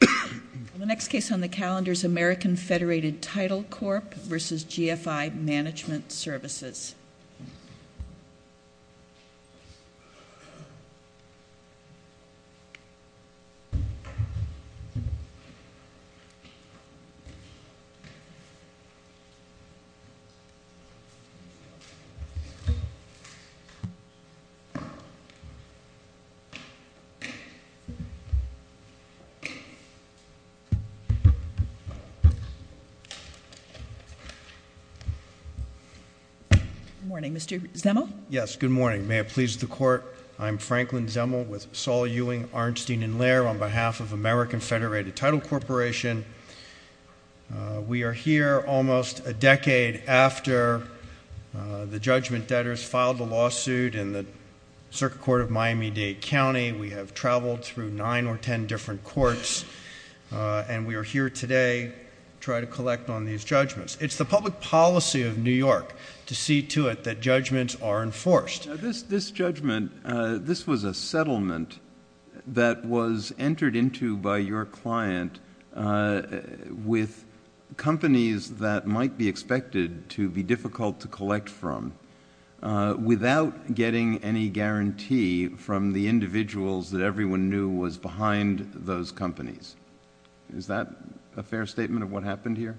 The next case on the calendar is American Federated Title Corp versus GFI Management Services. Good morning, Mr. Zemel. Yes, good morning. May it please the Court, I'm Franklin Zemel with Saul Ewing, Arnstein & Lehr on behalf of American Federated Title Corporation. We are here almost a decade after the judgment debtors filed the lawsuit in the Circuit Court of Miami-Dade County. We have traveled through nine or ten different courts, and we are here today to try to collect on these judgments. It's the public policy of New York to see to it that judgments are enforced. This judgment, this was a settlement that was entered into by your client with companies that might be expected to be difficult to collect from without getting any guarantee from the individuals that everyone knew was behind those companies. Is that a fair statement of what happened here?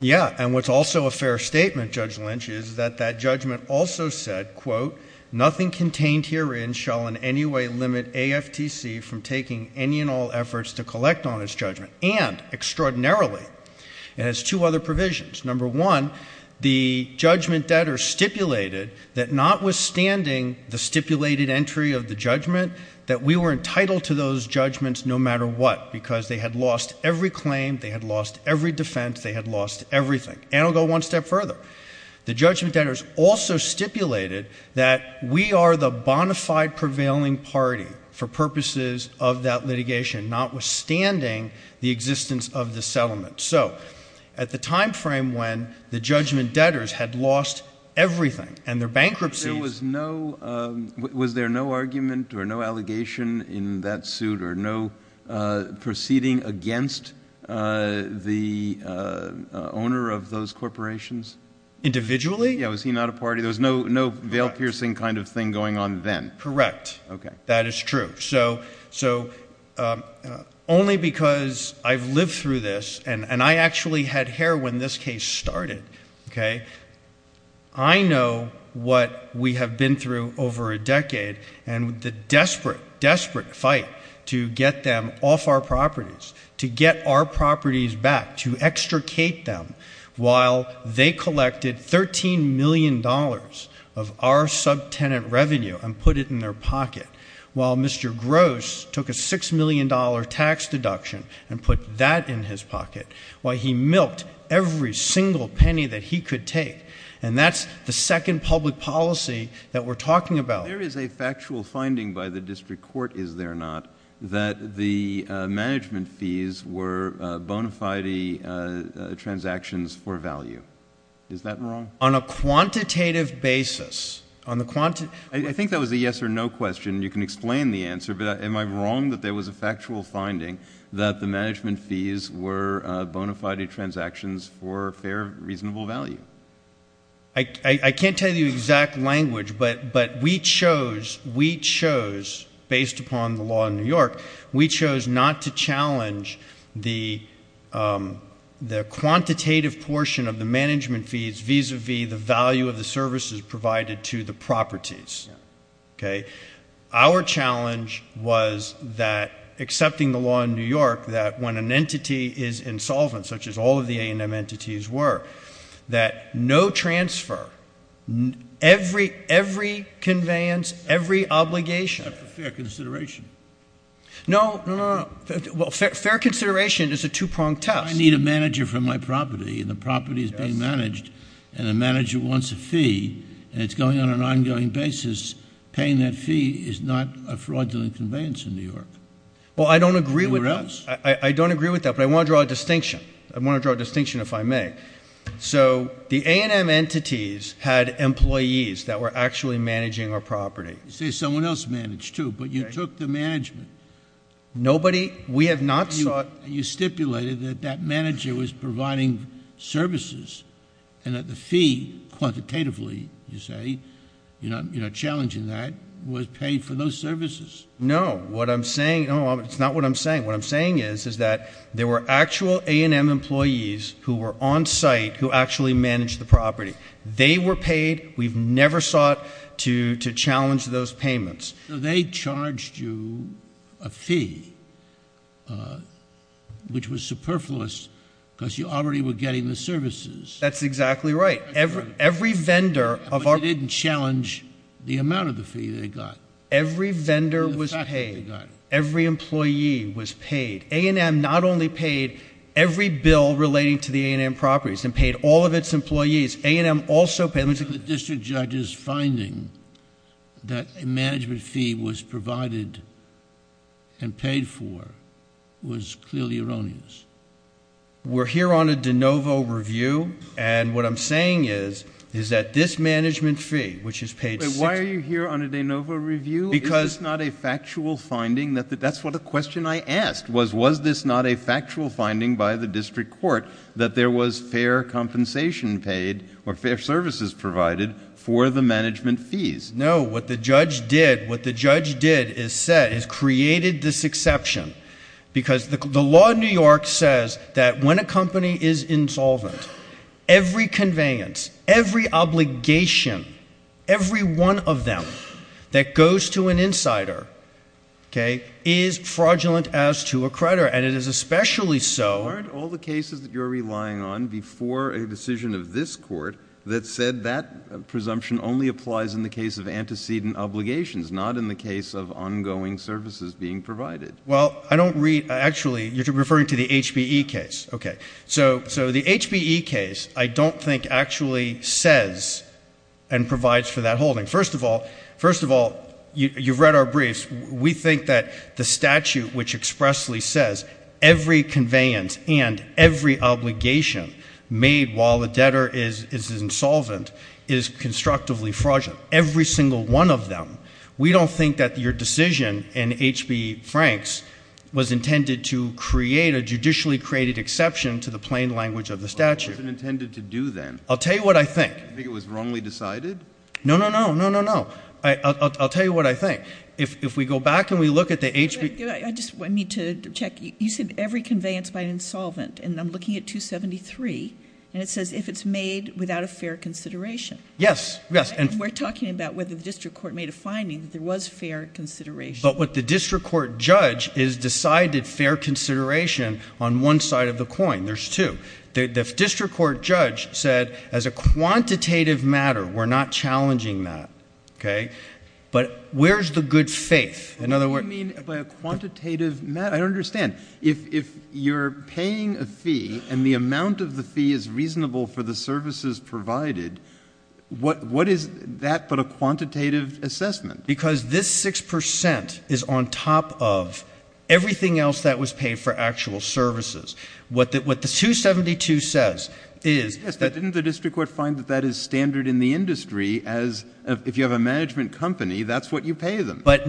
Yes, and what's also a fair statement, Judge Lynch, is that that judgment also said, quote, nothing contained herein shall in any way limit AFTC from taking any and all efforts to collect on its judgment. And extraordinarily, it has two other provisions. Number one, the judgment debtors stipulated that notwithstanding the stipulated entry of the judgment, that we were entitled to those judgments no matter what, because they had lost every claim, they had lost every defense, they had lost everything. And I'll go one step further. The judgment debtors also stipulated that we are the bona fide prevailing party for purposes of that litigation, notwithstanding the existence of the settlement. So at the time frame when the judgment debtors had lost everything and their bankruptcies Was there no argument or no allegation in that suit or no proceeding against the owner of those corporations? Individually? Yeah, was he not a party? There was no veil-piercing kind of thing going on then? Correct. That is true. So only because I've lived through this, and I actually had hair when this case started, okay, I know what we have been through over a decade and the desperate, desperate fight to get them off our properties, to get our properties back, to extricate them while they collected $13 million of our subtenant revenue and put it in their pocket, while Mr. Gross took a $6 million tax deduction and put that in his pocket, while he milked every single penny that he could take. And that's the second public policy that we're talking about. There is a factual finding by the district court, is there not, that the management fees were bona fide transactions for value. Is that wrong? On a quantitative basis. I think that was a yes or no question. You can explain the answer. But am I wrong that there was a factual finding that the management fees were bona fide transactions for fair, reasonable value? I can't tell you the exact language, but we chose, based upon the law in New York, we chose not to challenge the quantitative portion of the management fees vis-à-vis the value of the services provided to the properties. Our challenge was that, accepting the law in New York, that when an entity is insolvent, such as all of the A&M entities were, that no transfer, every conveyance, every obligation. Fair consideration. No, no, no. Well, fair consideration is a two-pronged test. I need a manager for my property, and the property is being managed, and the manager wants a fee, and it's going on an ongoing basis. Paying that fee is not a fraudulent conveyance in New York. Well, I don't agree with that. Or else. I don't agree with that, but I want to draw a distinction. I want to draw a distinction, if I may. So the A&M entities had employees that were actually managing our property. You say someone else managed, too, but you took the management. Nobody. We have not sought. You stipulated that that manager was providing services, and that the fee, quantitatively, you say, you're not challenging that, was paid for those services. No. What I'm saying, no, it's not what I'm saying. What I'm saying is, is that there were actual A&M employees who were on site who actually managed the property. They were paid. We've never sought to challenge those payments. They charged you a fee, which was superfluous because you already were getting the services. That's exactly right. Every vendor of our... But you didn't challenge the amount of the fee they got. Every vendor was paid. Every employee was paid. A&M not only paid every bill relating to the A&M properties and paid all of its employees. A&M also... provided and paid for was clearly erroneous. We're here on a de novo review, and what I'm saying is, is that this management fee, which is paid... Why are you here on a de novo review? Because... Is this not a factual finding? That's what the question I asked was, was this not a factual finding by the district court, that there was fair compensation paid or fair services provided for the management fees? No, what the judge did, what the judge did is said, is created this exception. Because the law in New York says that when a company is insolvent, every conveyance, every obligation, every one of them that goes to an insider, okay, is fraudulent as to a creditor. And it is especially so... Aren't all the cases that you're relying on before a decision of this court that said that presumption only applies in the case of antecedent obligations, not in the case of ongoing services being provided? Well, I don't read... Actually, you're referring to the HBE case. Okay. So, the HBE case, I don't think actually says and provides for that holding. First of all, first of all, you've read our briefs. We think that the statute, which expressly says every conveyance and every obligation made while the debtor is insolvent is constructively fraudulent, every single one of them. We don't think that your decision in H.B. Franks was intended to create a judicially created exception to the plain language of the statute. Well, what was it intended to do then? I'll tell you what I think. You think it was wrongly decided? No, no, no, no, no, no. I'll tell you what I think. If we go back and we look at the H.B... I just need to check. You said every conveyance by an insolvent, and I'm looking at 273, and it says if it's made without a fair consideration. Yes, yes. And we're talking about whether the district court made a finding that there was fair consideration. But what the district court judge has decided fair consideration on one side of the coin. There's two. The district court judge said as a quantitative matter, we're not challenging that. Okay? But where's the good faith? In other words... What do you mean by a quantitative matter? I don't understand. If you're paying a fee and the amount of the fee is reasonable for the services provided, what is that but a quantitative assessment? Because this 6 percent is on top of everything else that was paid for actual services. What the 272 says is... Yes, but didn't the district court find that that is standard in the industry as if you have a management company, that's what you pay them? But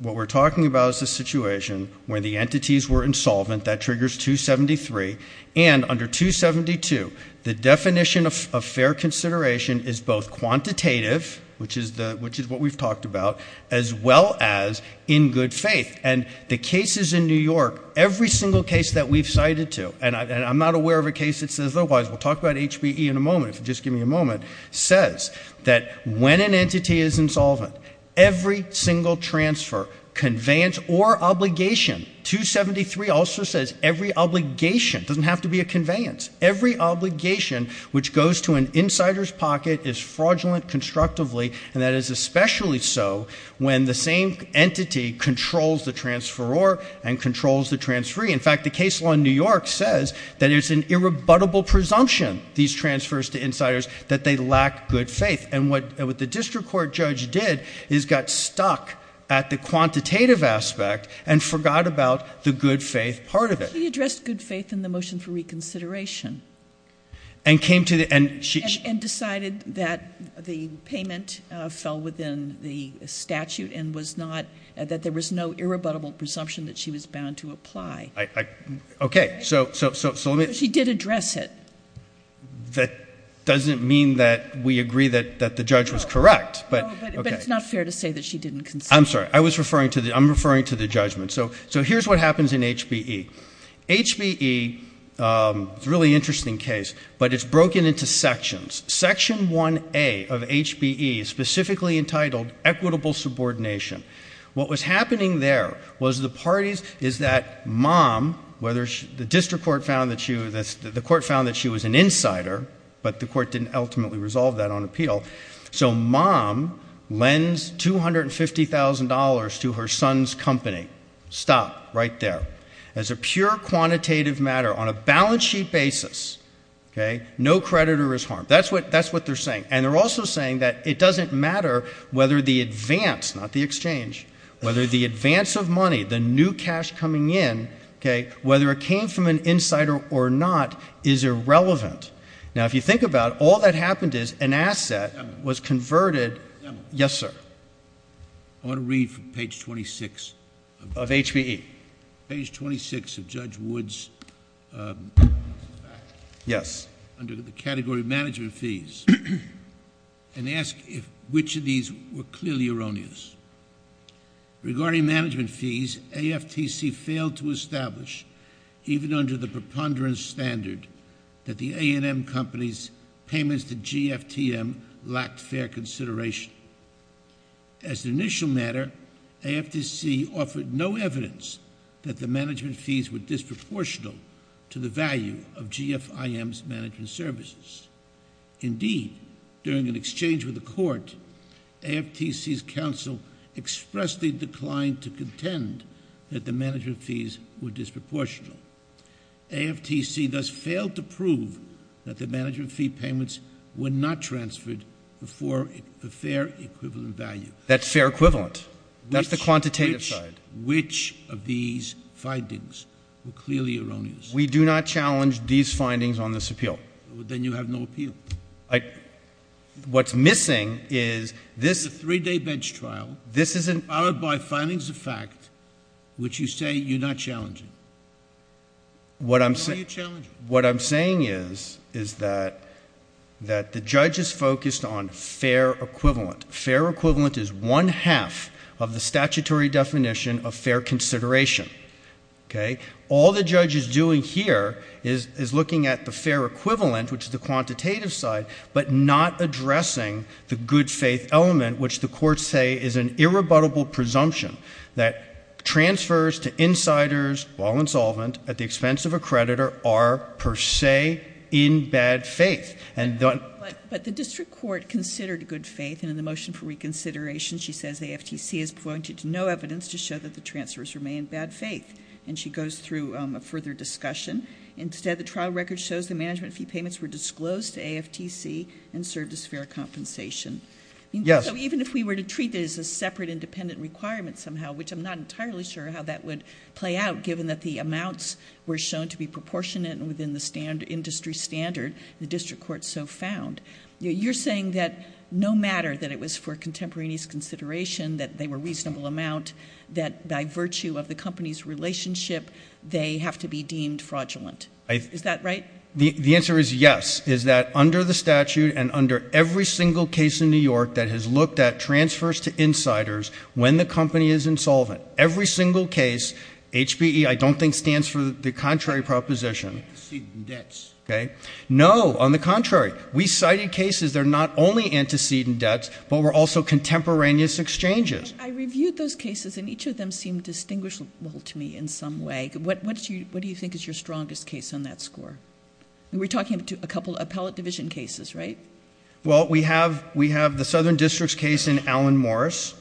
what we're talking about is the situation where the entities were insolvent. That triggers 273. And under 272, the definition of fair consideration is both quantitative, which is what we've talked about, as well as in good faith. And the cases in New York, every single case that we've cited to, and I'm not aware of a case that says otherwise. We'll talk about HBE in a moment, if you'll just give me a moment. says that when an entity is insolvent, every single transfer, conveyance or obligation... 273 also says every obligation, doesn't have to be a conveyance. Every obligation which goes to an insider's pocket is fraudulent constructively. And that is especially so when the same entity controls the transferor and controls the transferee. In fact, the case law in New York says that it's an irrebuttable presumption, these transfers to insiders, that they lack good faith. And what the district court judge did is got stuck at the quantitative aspect and forgot about the good faith part of it. He addressed good faith in the motion for reconsideration. And came to the... And decided that the payment fell within the statute and was not... Okay, so let me... She did address it. That doesn't mean that we agree that the judge was correct. But it's not fair to say that she didn't... I'm sorry. I was referring to the... I'm referring to the judgment. So here's what happens in HBE. HBE, it's a really interesting case, but it's broken into sections. Section 1A of HBE is specifically entitled equitable subordination. What was happening there was the parties... is that mom, whether she... The district court found that she was an insider, but the court didn't ultimately resolve that on appeal. So mom lends $250,000 to her son's company. Stop. Right there. As a pure quantitative matter, on a balance sheet basis, okay, no creditor is harmed. That's what they're saying. And they're also saying that it doesn't matter whether the advance, not the exchange, whether the advance of money, the new cash coming in, okay, whether it came from an insider or not, is irrelevant. Now, if you think about it, all that happened is an asset was converted... Yes, sir. I want to read from page 26. Of HBE. Page 26 of Judge Wood's... Yes. Under the category of management fees. And ask if which of these were clearly erroneous. Regarding management fees, AFTC failed to establish, even under the preponderance standard, that the A&M Company's payments to GFTM lacked fair consideration. As an initial matter, AFTC offered no evidence that the management fees were disproportionate to the value of GFIM's management services. Indeed, during an exchange with the court, AFTC's counsel expressly declined to contend that the management fees were disproportionate. AFTC thus failed to prove that the management fee payments were not transferred before a fair equivalent value. That's fair equivalent. That's the quantitative side. Which of these findings were clearly erroneous? We do not challenge these findings on this appeal. Then you have no appeal. What's missing is this... What I'm saying is that the judge is focused on fair equivalent. Fair equivalent is one half of the statutory definition of fair consideration. Okay? All the judge is doing here is looking at the fair equivalent, which is the quantitative side, but not addressing the good faith element, which the courts say is an irrebuttable presumption that transfers to insiders, while insolvent, at the expense of a creditor are per se in bad faith. But the district court considered good faith, and in the motion for reconsideration, she says AFTC has pointed to no evidence to show that the transfers remain in bad faith. And she goes through a further discussion. Instead, the trial record shows the management fee payments were disclosed to AFTC and served as fair compensation. Yes. So even if we were to treat this as a separate independent requirement somehow, which I'm not entirely sure how that would play out, given that the amounts were shown to be proportionate within the industry standard the district court so found, you're saying that no matter that it was for contemporaneous consideration, that they were reasonable amount, that by virtue of the company's relationship, they have to be deemed fraudulent. Is that right? The answer is yes. The answer is yes, is that under the statute and under every single case in New York that has looked at transfers to insiders when the company is insolvent, every single case, HPE I don't think stands for the contrary proposition. Antecedent debts. Okay. No, on the contrary. We cited cases that are not only antecedent debts, but were also contemporaneous exchanges. I reviewed those cases, and each of them seemed distinguishable to me in some way. What do you think is your strongest case on that score? We're talking about a couple of appellate division cases, right? Well, we have the Southern District's case in Allen Morris,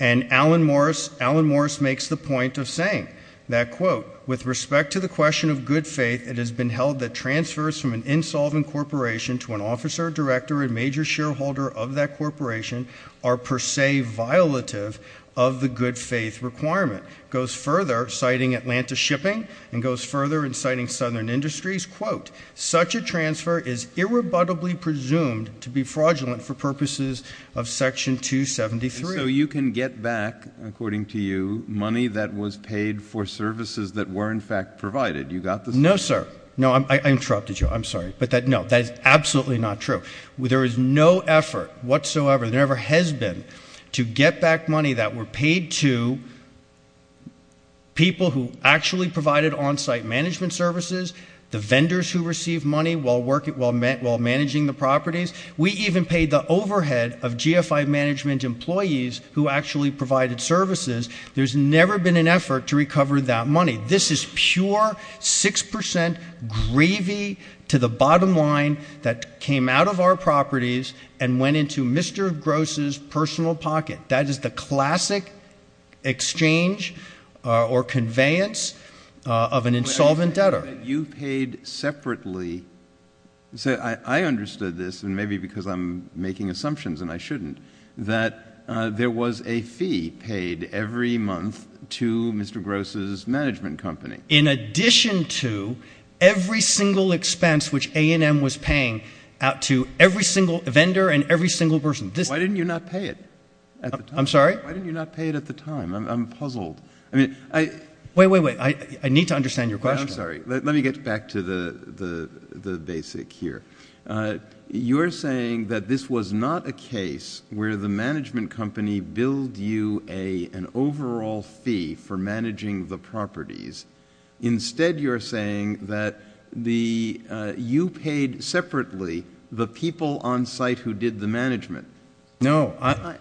and Allen Morris makes the point of saying that, quote, with respect to the question of good faith, it has been held that transfers from an insolvent corporation to an officer, director, and major shareholder of that corporation are per se violative of the good faith requirement. It goes further, citing Atlanta Shipping, and goes further in citing Southern Industries, quote, such a transfer is irrebuttably presumed to be fraudulent for purposes of Section 273. So you can get back, according to you, money that was paid for services that were in fact provided. You got this? No, sir. No, I interrupted you. I'm sorry. But, no, that is absolutely not true. There is no effort whatsoever, there never has been, to get back money that were paid to people who actually provided on-site management services, the vendors who received money while managing the properties. We even paid the overhead of GFI management employees who actually provided services. There's never been an effort to recover that money. This is pure 6% gravy to the bottom line that came out of our properties and went into Mr. Gross's personal pocket. That is the classic exchange or conveyance of an insolvent debtor. You paid separately. I understood this, and maybe because I'm making assumptions and I shouldn't, that there was a fee paid every month to Mr. Gross's management company. In addition to every single expense which A&M was paying out to every single vendor and every single person. Why didn't you not pay it at the time? I'm sorry? Why didn't you not pay it at the time? I'm puzzled. Wait, wait, wait. I need to understand your question. I'm sorry. Let me get back to the basic here. You're saying that this was not a case where the management company billed you an overall fee for managing the properties. Instead, you're saying that you paid separately the people on site who did the management. No.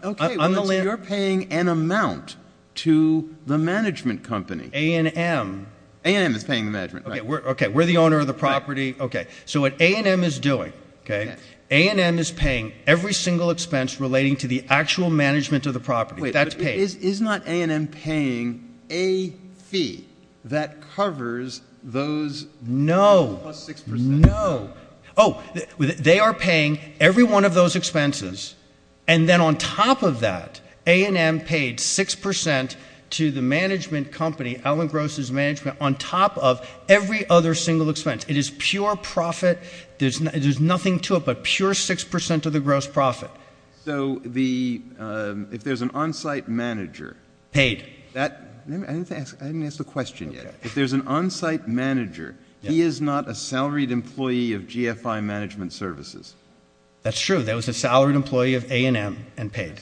Okay. You're paying an amount to the management company. A&M. A&M is paying the management. Okay. We're the owner of the property. Okay. So what A&M is doing, okay, A&M is paying every single expense relating to the actual management of the property. That's paid. Wait. Is not A&M paying a fee that covers those? No. Plus 6%. No. Oh, they are paying every one of those expenses, and then on top of that, A&M paid 6% to the management company, Alan Gross's management, on top of every other single expense. It is pure profit. There's nothing to it but pure 6% of the gross profit. So if there's an on-site manager. Paid. I didn't ask the question yet. If there's an on-site manager, he is not a salaried employee of GFI Management Services. That's true. That was a salaried employee of A&M and paid.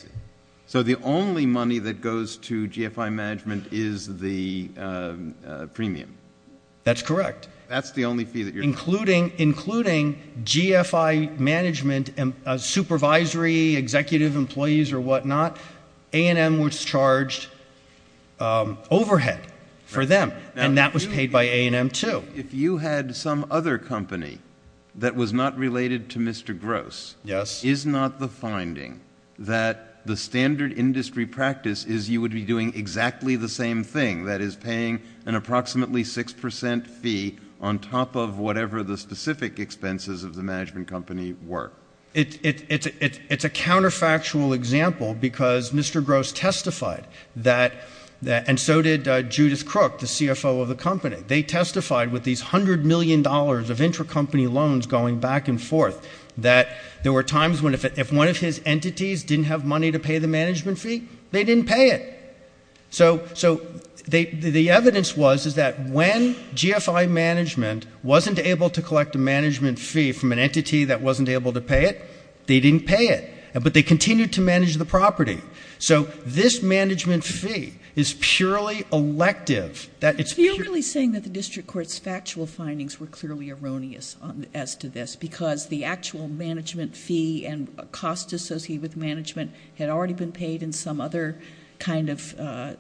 So the only money that goes to GFI Management is the premium. That's correct. Including GFI Management supervisory executive employees or whatnot, A&M was charged overhead for them, and that was paid by A&M, too. If you had some other company that was not related to Mr. Gross, is not the finding that the standard industry practice is you would be doing exactly the same thing, that is paying an approximately 6% fee on top of whatever the specific expenses of the management company were? It's a counterfactual example because Mr. Gross testified that, and so did Judith Crook, the CFO of the company. They testified with these $100 million of intracompany loans going back and forth, that there were times when if one of his entities didn't have money to pay the management fee, they didn't pay it. So the evidence was is that when GFI Management wasn't able to collect a management fee from an entity that wasn't able to pay it, they didn't pay it, but they continued to manage the property. So this management fee is purely elective. So you're really saying that the district court's factual findings were clearly erroneous as to this because the actual management fee and cost associated with management had already been paid in some other kind of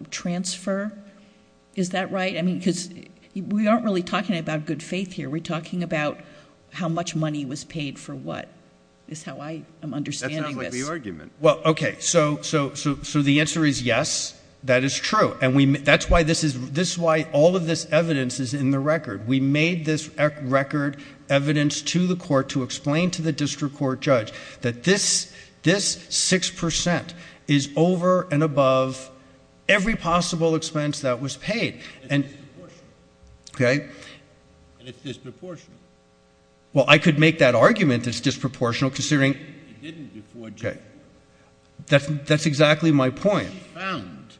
transfer? Is that right? I mean, because we aren't really talking about good faith here. We're talking about how much money was paid for what is how I am understanding this. That sounds like the argument. Well, okay. So the answer is yes, that is true. And that's why this is why all of this evidence is in the record. We made this record evidence to the court to explain to the district court judge that this 6% is over and above every possible expense that was paid. And it's disproportionate. Okay. And it's disproportional. Well, I could make that argument it's disproportional considering. It didn't before January. That's exactly my point. You found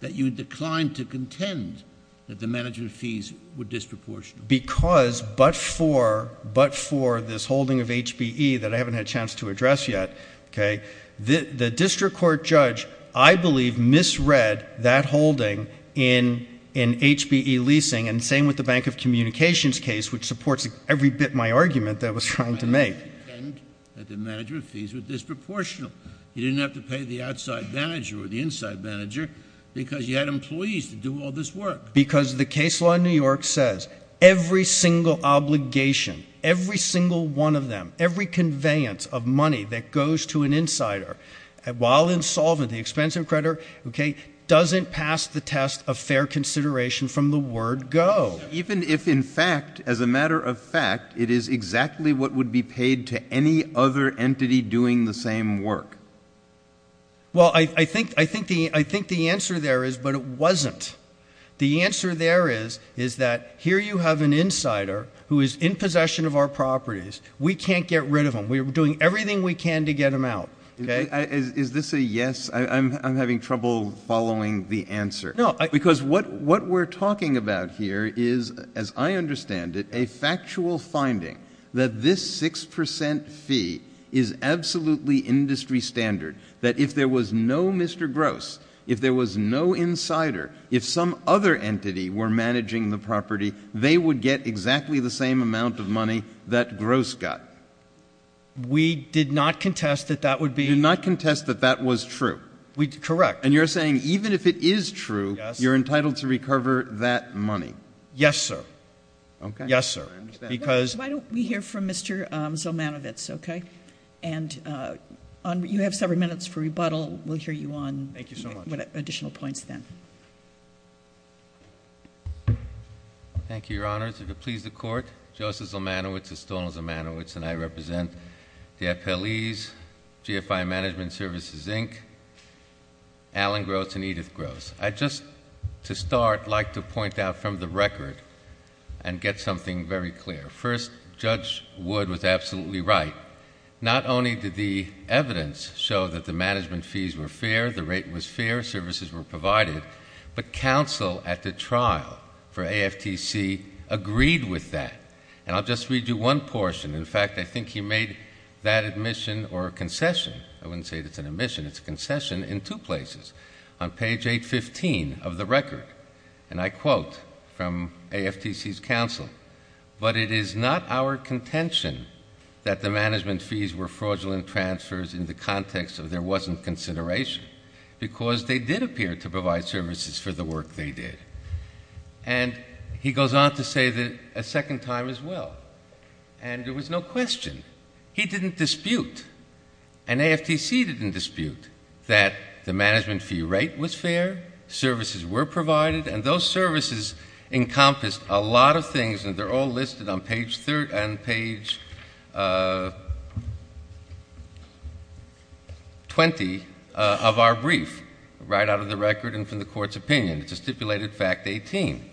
that you declined to contend that the management fees were disproportionate. Because but for this holding of HBE that I haven't had a chance to address yet, okay, the district court judge, I believe, misread that holding in HBE leasing. And the same with the Bank of Communications case, which supports every bit of my argument that I was trying to make. That the management fees were disproportional. You didn't have to pay the outside manager or the inside manager because you had employees to do all this work. Because the case law in New York says every single obligation, every single one of them, every conveyance of money that goes to an insider, while insolvent, the expensive creditor, okay, doesn't pass the test of fair consideration from the word go. Even if in fact, as a matter of fact, it is exactly what would be paid to any other entity doing the same work. Well, I think the answer there is but it wasn't. The answer there is that here you have an insider who is in possession of our properties. We can't get rid of him. We're doing everything we can to get him out. Is this a yes? I'm having trouble following the answer. Because what we're talking about here is, as I understand it, a factual finding that this 6% fee is absolutely industry standard. That if there was no Mr. Gross, if there was no insider, if some other entity were managing the property, they would get exactly the same amount of money that Gross got. We did not contest that that would be. You did not contest that that was true. Correct. And you're saying even if it is true, you're entitled to recover that money. Yes, sir. Okay. Yes, sir. Because- Why don't we hear from Mr. Zolmanowicz, okay? And you have several minutes for rebuttal. We'll hear you on- Thank you so much. Additional points then. Thank you, Your Honors. If it pleases the Court, Joseph Zolmanowicz, Eston Zolmanowicz, and I represent the FLEs, GFI Management Services, Inc., Alan Gross, and Edith Gross. I'd just, to start, like to point out from the record and get something very clear. First, Judge Wood was absolutely right. Not only did the evidence show that the management fees were fair, the rate was fair, services were provided, but counsel at the trial for AFTC agreed with that. And I'll just read you one portion. In fact, I think he made that admission or concession. I wouldn't say it's an admission. It's a concession in two places. On page 815 of the record, and I quote from AFTC's counsel, but it is not our contention that the management fees were fraudulent transfers in the context of there wasn't consideration, because they did appear to provide services for the work they did. And he goes on to say that a second time as well. And there was no question. He didn't dispute, and AFTC didn't dispute, that the management fee rate was fair, services were provided, and those services encompassed a lot of things, and they're all listed on page 30 and page 20 of our brief, right out of the record and from the court's opinion. It's a stipulated fact 18.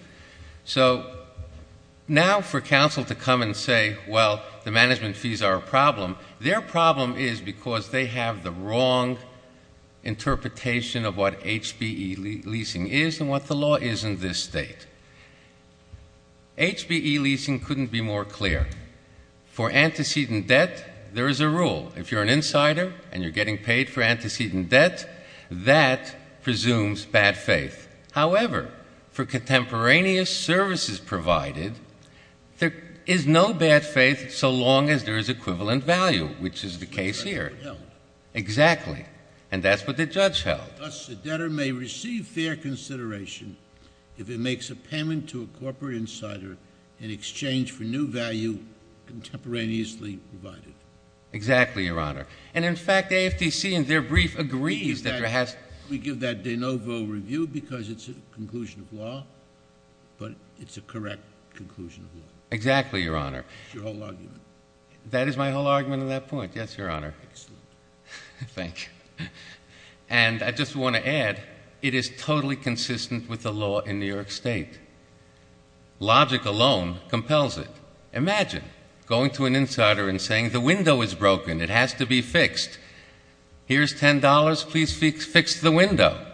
So now for counsel to come and say, well, the management fees are a problem, their problem is because they have the wrong interpretation of what HBE leasing is and what the law is in this state. HBE leasing couldn't be more clear. For antecedent debt, there is a rule. If you're an insider and you're getting paid for antecedent debt, that presumes bad faith. However, for contemporaneous services provided, there is no bad faith so long as there is equivalent value, which is the case here. Exactly. And that's what the judge held. Thus, the debtor may receive fair consideration if it makes a payment to a corporate insider in exchange for new value contemporaneously provided. Exactly, Your Honor. And, in fact, AFTC, in their brief, agrees that there has to be. We give that de novo review because it's a conclusion of law, but it's a correct conclusion of law. Exactly, Your Honor. That's your whole argument. That is my whole argument on that point. Yes, Your Honor. Excellent. Thank you. And I just want to add, it is totally consistent with the law in New York State. Logic alone compels it. Imagine going to an insider and saying, the window is broken. It has to be fixed. Here's $10. Please fix the window.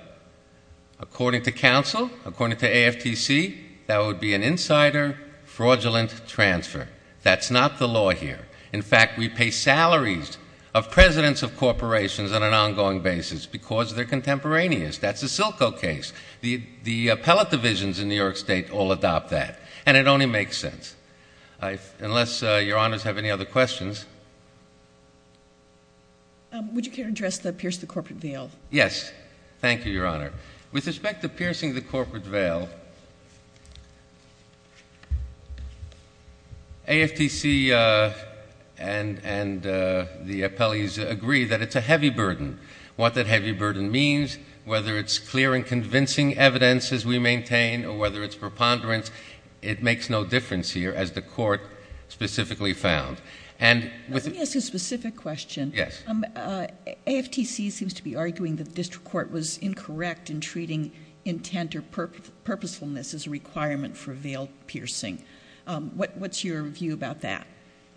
According to counsel, according to AFTC, that would be an insider fraudulent transfer. That's not the law here. In fact, we pay salaries of presidents of corporations on an ongoing basis because they're contemporaneous. That's the Silco case. The appellate divisions in New York State all adopt that. And it only makes sense. Unless Your Honors have any other questions. Would you care to address the pierce the corporate veil? Yes. Thank you, Your Honor. With respect to piercing the corporate veil, AFTC and the appellees agree that it's a heavy burden. What that heavy burden means, whether it's clear and convincing evidence, as we maintain, or whether it's preponderance, it makes no difference here, as the court specifically found. Let me ask a specific question. Yes. AFTC seems to be arguing that the district court was incorrect in treating intent or purposefulness as a requirement for veil piercing. What's your view about that?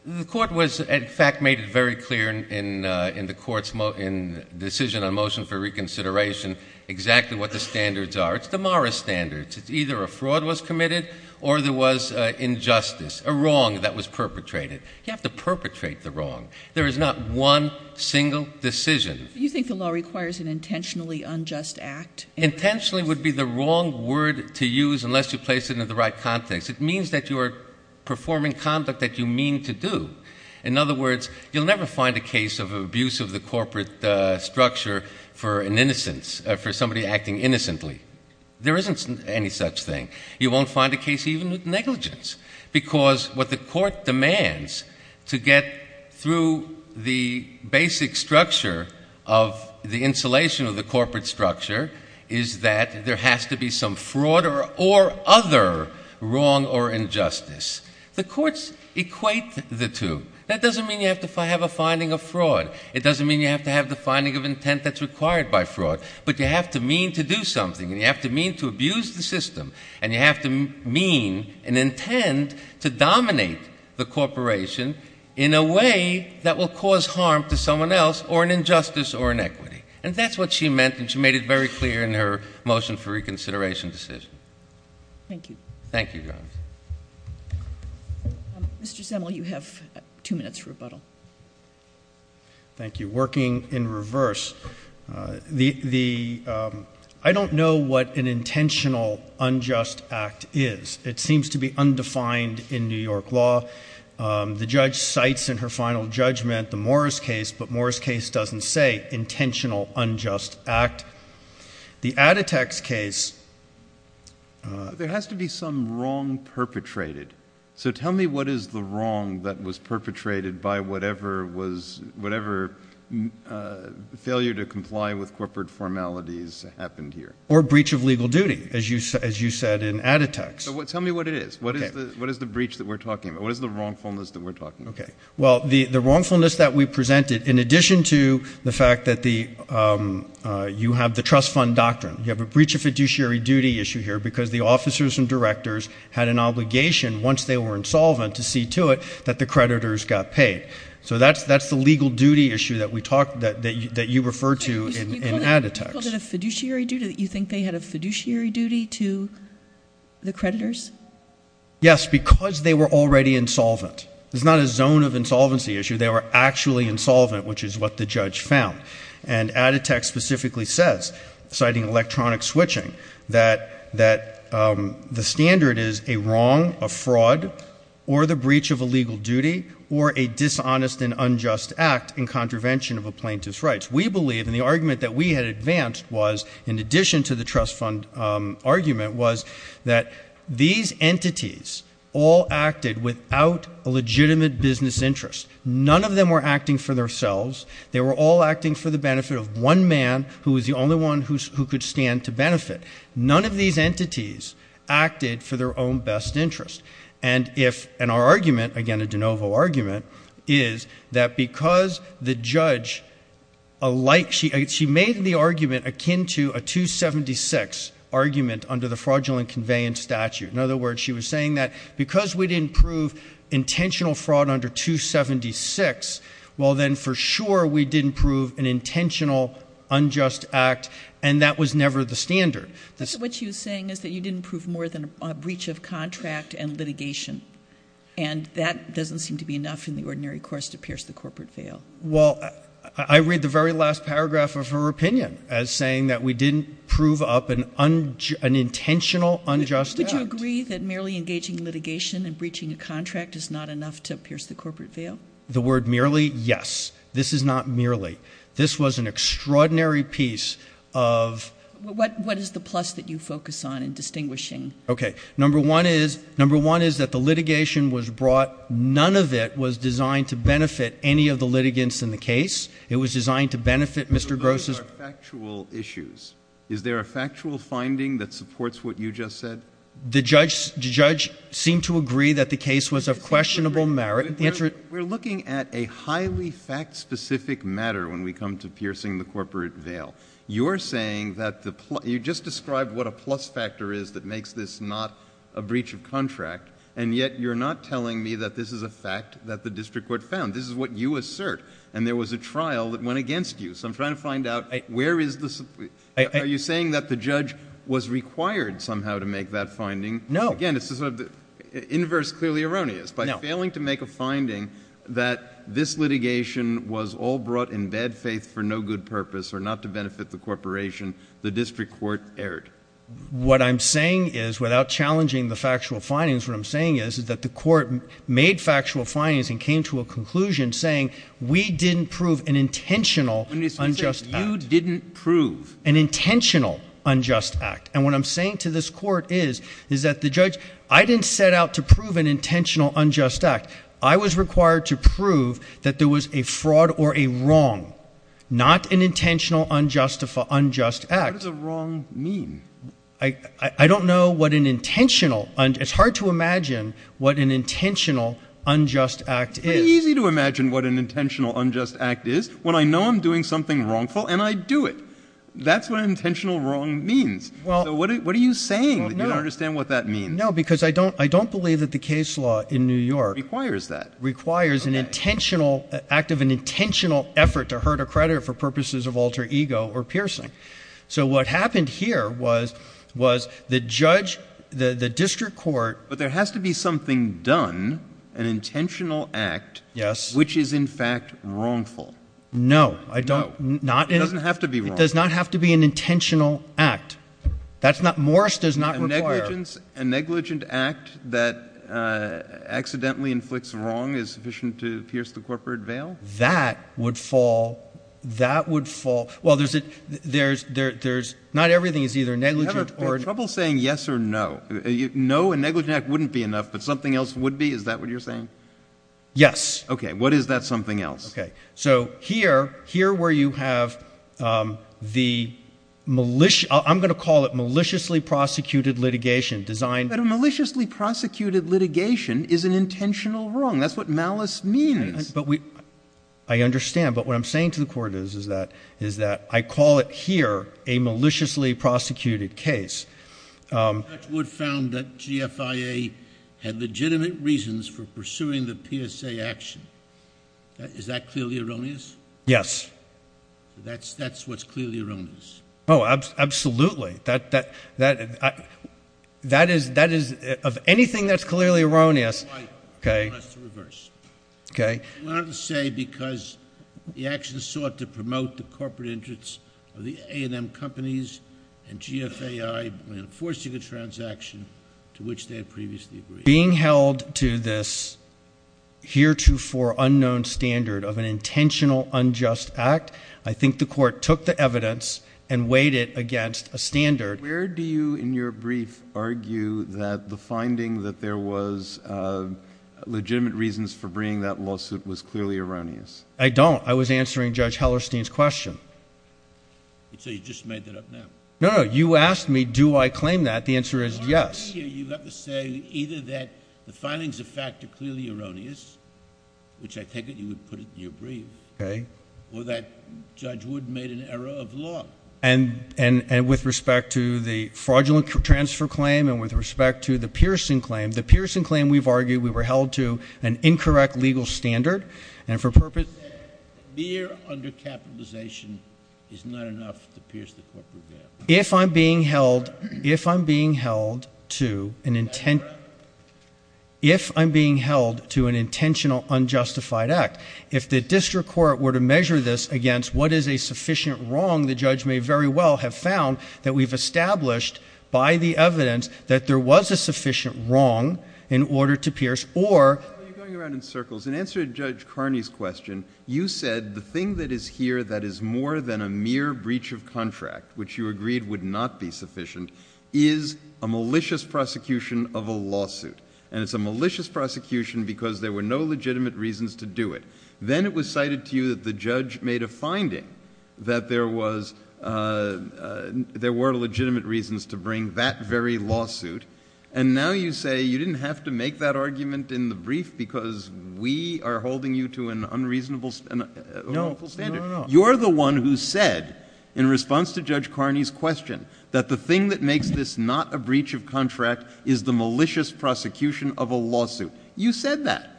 The court was, in fact, made it very clear in the court's decision on motion for reconsideration exactly what the standards are. It's the MARA standards. It's either a fraud was committed or there was injustice, a wrong that was perpetrated. You have to perpetrate the wrong. There is not one single decision. Do you think the law requires an intentionally unjust act? Intentionally would be the wrong word to use unless you place it in the right context. It means that you are performing conduct that you mean to do. In other words, you'll never find a case of abuse of the corporate structure for an innocence, for somebody acting innocently. There isn't any such thing. You won't find a case even with negligence. Because what the court demands to get through the basic structure of the insulation of the corporate structure is that there has to be some fraud or other wrong or injustice. The courts equate the two. That doesn't mean you have to have a finding of fraud. It doesn't mean you have to have the finding of intent that's required by fraud. But you have to mean to do something. And you have to mean to abuse the system. And you have to mean and intend to dominate the corporation in a way that will cause harm to someone else or an injustice or inequity. And that's what she meant, and she made it very clear in her motion for reconsideration decision. Thank you. Thank you, Jones. Mr. Semel, you have two minutes for rebuttal. Thank you. Working in reverse, I don't know what an intentional unjust act is. It seems to be undefined in New York law. The judge cites in her final judgment the Morris case, but Morris case doesn't say intentional unjust act. The Adeteks case. There has to be some wrong perpetrated. So tell me what is the wrong that was perpetrated by whatever failure to comply with corporate formalities happened here. Or breach of legal duty, as you said in Adeteks. Tell me what it is. What is the breach that we're talking about? What is the wrongfulness that we're talking about? Well, the wrongfulness that we presented, in addition to the fact that you have the trust fund doctrine, you have a breach of fiduciary duty issue here because the officers and directors had an obligation, once they were insolvent, to see to it that the creditors got paid. So that's the legal duty issue that you refer to in Adeteks. You called it a fiduciary duty? You think they had a fiduciary duty to the creditors? Yes, because they were already insolvent. It's not a zone of insolvency issue. They were actually insolvent, which is what the judge found. And Adeteks specifically says, citing electronic switching, that the standard is a wrong, a fraud, or the breach of a legal duty, or a dishonest and unjust act in contravention of a plaintiff's rights. We believe, and the argument that we had advanced was, in addition to the trust fund argument, was that these entities all acted without a legitimate business interest. None of them were acting for themselves. They were all acting for the benefit of one man who was the only one who could stand to benefit. None of these entities acted for their own best interest. And our argument, again a de novo argument, is that because the judge made the argument akin to a 276 argument under the fraudulent conveyance statute. In other words, she was saying that because we didn't prove intentional fraud under 276, well then for sure we didn't prove an intentional unjust act, and that was never the standard. What she was saying is that you didn't prove more than a breach of contract and litigation, and that doesn't seem to be enough in the ordinary course to pierce the corporate veil. Well, I read the very last paragraph of her opinion as saying that we didn't prove up an intentional unjust act. Would you agree that merely engaging in litigation and breaching a contract is not enough to pierce the corporate veil? The word merely, yes. This is not merely. This was an extraordinary piece of... What is the plus that you focus on in distinguishing? Okay. Number one is that the litigation was brought. None of it was designed to benefit any of the litigants in the case. It was designed to benefit Mr. Gross's... Those are factual issues. Is there a factual finding that supports what you just said? The judge seemed to agree that the case was of questionable merit. We're looking at a highly fact-specific matter when we come to piercing the corporate veil. You're saying that you just described what a plus factor is that makes this not a breach of contract, and yet you're not telling me that this is a fact that the district court found. This is what you assert, and there was a trial that went against you, so I'm trying to find out where is the... Are you saying that the judge was required somehow to make that finding? No. Again, this is sort of inverse clearly erroneous. By failing to make a finding that this litigation was all brought in bad faith for no good purpose or not to benefit the corporation, the district court erred. What I'm saying is, without challenging the factual findings, what I'm saying is that the court made factual findings and came to a conclusion saying, we didn't prove an intentional unjust act. You didn't prove... An intentional unjust act. And what I'm saying to this court is, is that the judge... I didn't set out to prove an intentional unjust act. I was required to prove that there was a fraud or a wrong, not an intentional unjust act. What does a wrong mean? I don't know what an intentional... It's hard to imagine what an intentional unjust act is. It's pretty easy to imagine what an intentional unjust act is when I know I'm doing something wrongful and I do it. That's what an intentional wrong means. What are you saying? You don't understand what that means. No, because I don't believe that the case law in New York... Requires that. Requires an intentional act of an intentional effort to hurt a creditor for purposes of alter ego or piercing. So what happened here was the judge, the district court... But there has to be something done, an intentional act, which is in fact wrongful. No. No. It doesn't have to be wrong. It does not have to be an intentional act. That's not... Morris does not require... A negligent act that accidentally inflicts wrong is sufficient to pierce the corporate veil? That would fall... That would fall... Well, there's... Not everything is either negligent or... You have trouble saying yes or no. No, a negligent act wouldn't be enough, but something else would be? Is that what you're saying? Yes. Okay. What is that something else? Okay. So here, here where you have the malicious... I'm going to call it maliciously prosecuted litigation designed... But a maliciously prosecuted litigation is an intentional wrong. That's what malice means. But we... I understand, but what I'm saying to the court is that I call it here a maliciously prosecuted case. Judge Wood found that GFIA had legitimate reasons for pursuing the PSA action. Is that clearly erroneous? Yes. That's what's clearly erroneous. Oh, absolutely. That is... Of anything that's clearly erroneous... That's why I want us to reverse. Okay. I wanted to say because the actions sought to promote the corporate interests of the A&M companies and GFIA in enforcing a transaction to which they had previously agreed. Being held to this heretofore unknown standard of an intentional unjust act, I think the court took the evidence and weighed it against a standard. Where do you, in your brief, argue that the finding that there was legitimate reasons for bringing that lawsuit was clearly erroneous? I don't. I was answering Judge Hellerstein's question. So you just made that up now? No, no. You asked me do I claim that. The answer is yes. I guess here you have to say either that the findings of fact are clearly erroneous, which I take it you would put it in your brief, or that Judge Wood made an error of law. And with respect to the fraudulent transfer claim and with respect to the piercing claim, the piercing claim we've argued we were held to an incorrect legal standard and for purpose... That mere undercapitalization is not enough to pierce the corporate ground. If I'm being held to an intentional unjustified act, if the district court were to measure this against what is a sufficient wrong, the judge may very well have found that we've established by the evidence that there was a sufficient wrong in order to pierce or... You're going around in circles. In answer to Judge Carney's question, you said the thing that is here that is more than a mere breach of contract, which you agreed would not be sufficient, is a malicious prosecution of a lawsuit. And it's a malicious prosecution because there were no legitimate reasons to do it. Then it was cited to you that the judge made a finding that there were legitimate reasons to bring that very lawsuit. And now you say you didn't have to make that argument in the brief because we are holding you to an unreasonable... No, no, no. You're the one who said, in response to Judge Carney's question, that the thing that makes this not a breach of contract is the malicious prosecution of a lawsuit. You said that.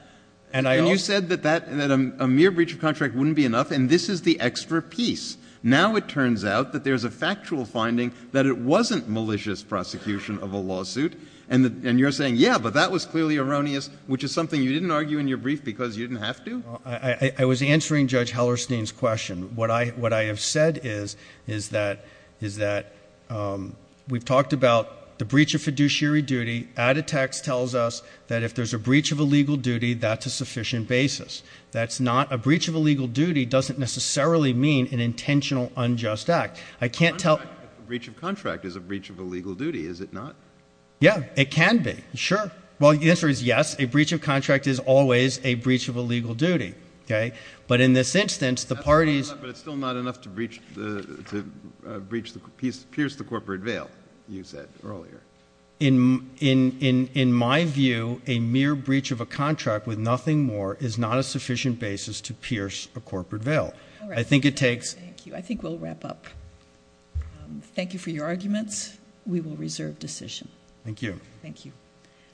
And I... And you said that a mere breach of contract wouldn't be enough, and this is the extra piece. Now it turns out that there's a factual finding that it wasn't malicious prosecution of a lawsuit, and you're saying, yeah, but that was clearly erroneous, which is something you didn't argue in your brief because you didn't have to? I was answering Judge Hellerstein's question. What I have said is that we've talked about the breach of fiduciary duty. Add a text tells us that if there's a breach of a legal duty, that's a sufficient basis. A breach of a legal duty doesn't necessarily mean an intentional unjust act. I can't tell... A breach of contract is a breach of a legal duty, is it not? Yeah, it can be. Sure. Well, the answer is yes. A breach of contract is always a breach of a legal duty. But in this instance, the parties... But it's still not enough to pierce the corporate veil, you said earlier. In my view, a mere breach of a contract with nothing more is not a sufficient basis to pierce a corporate veil. I think it takes... Thank you. I think we'll wrap up. Thank you for your arguments. We will reserve decision. Thank you. Thank you.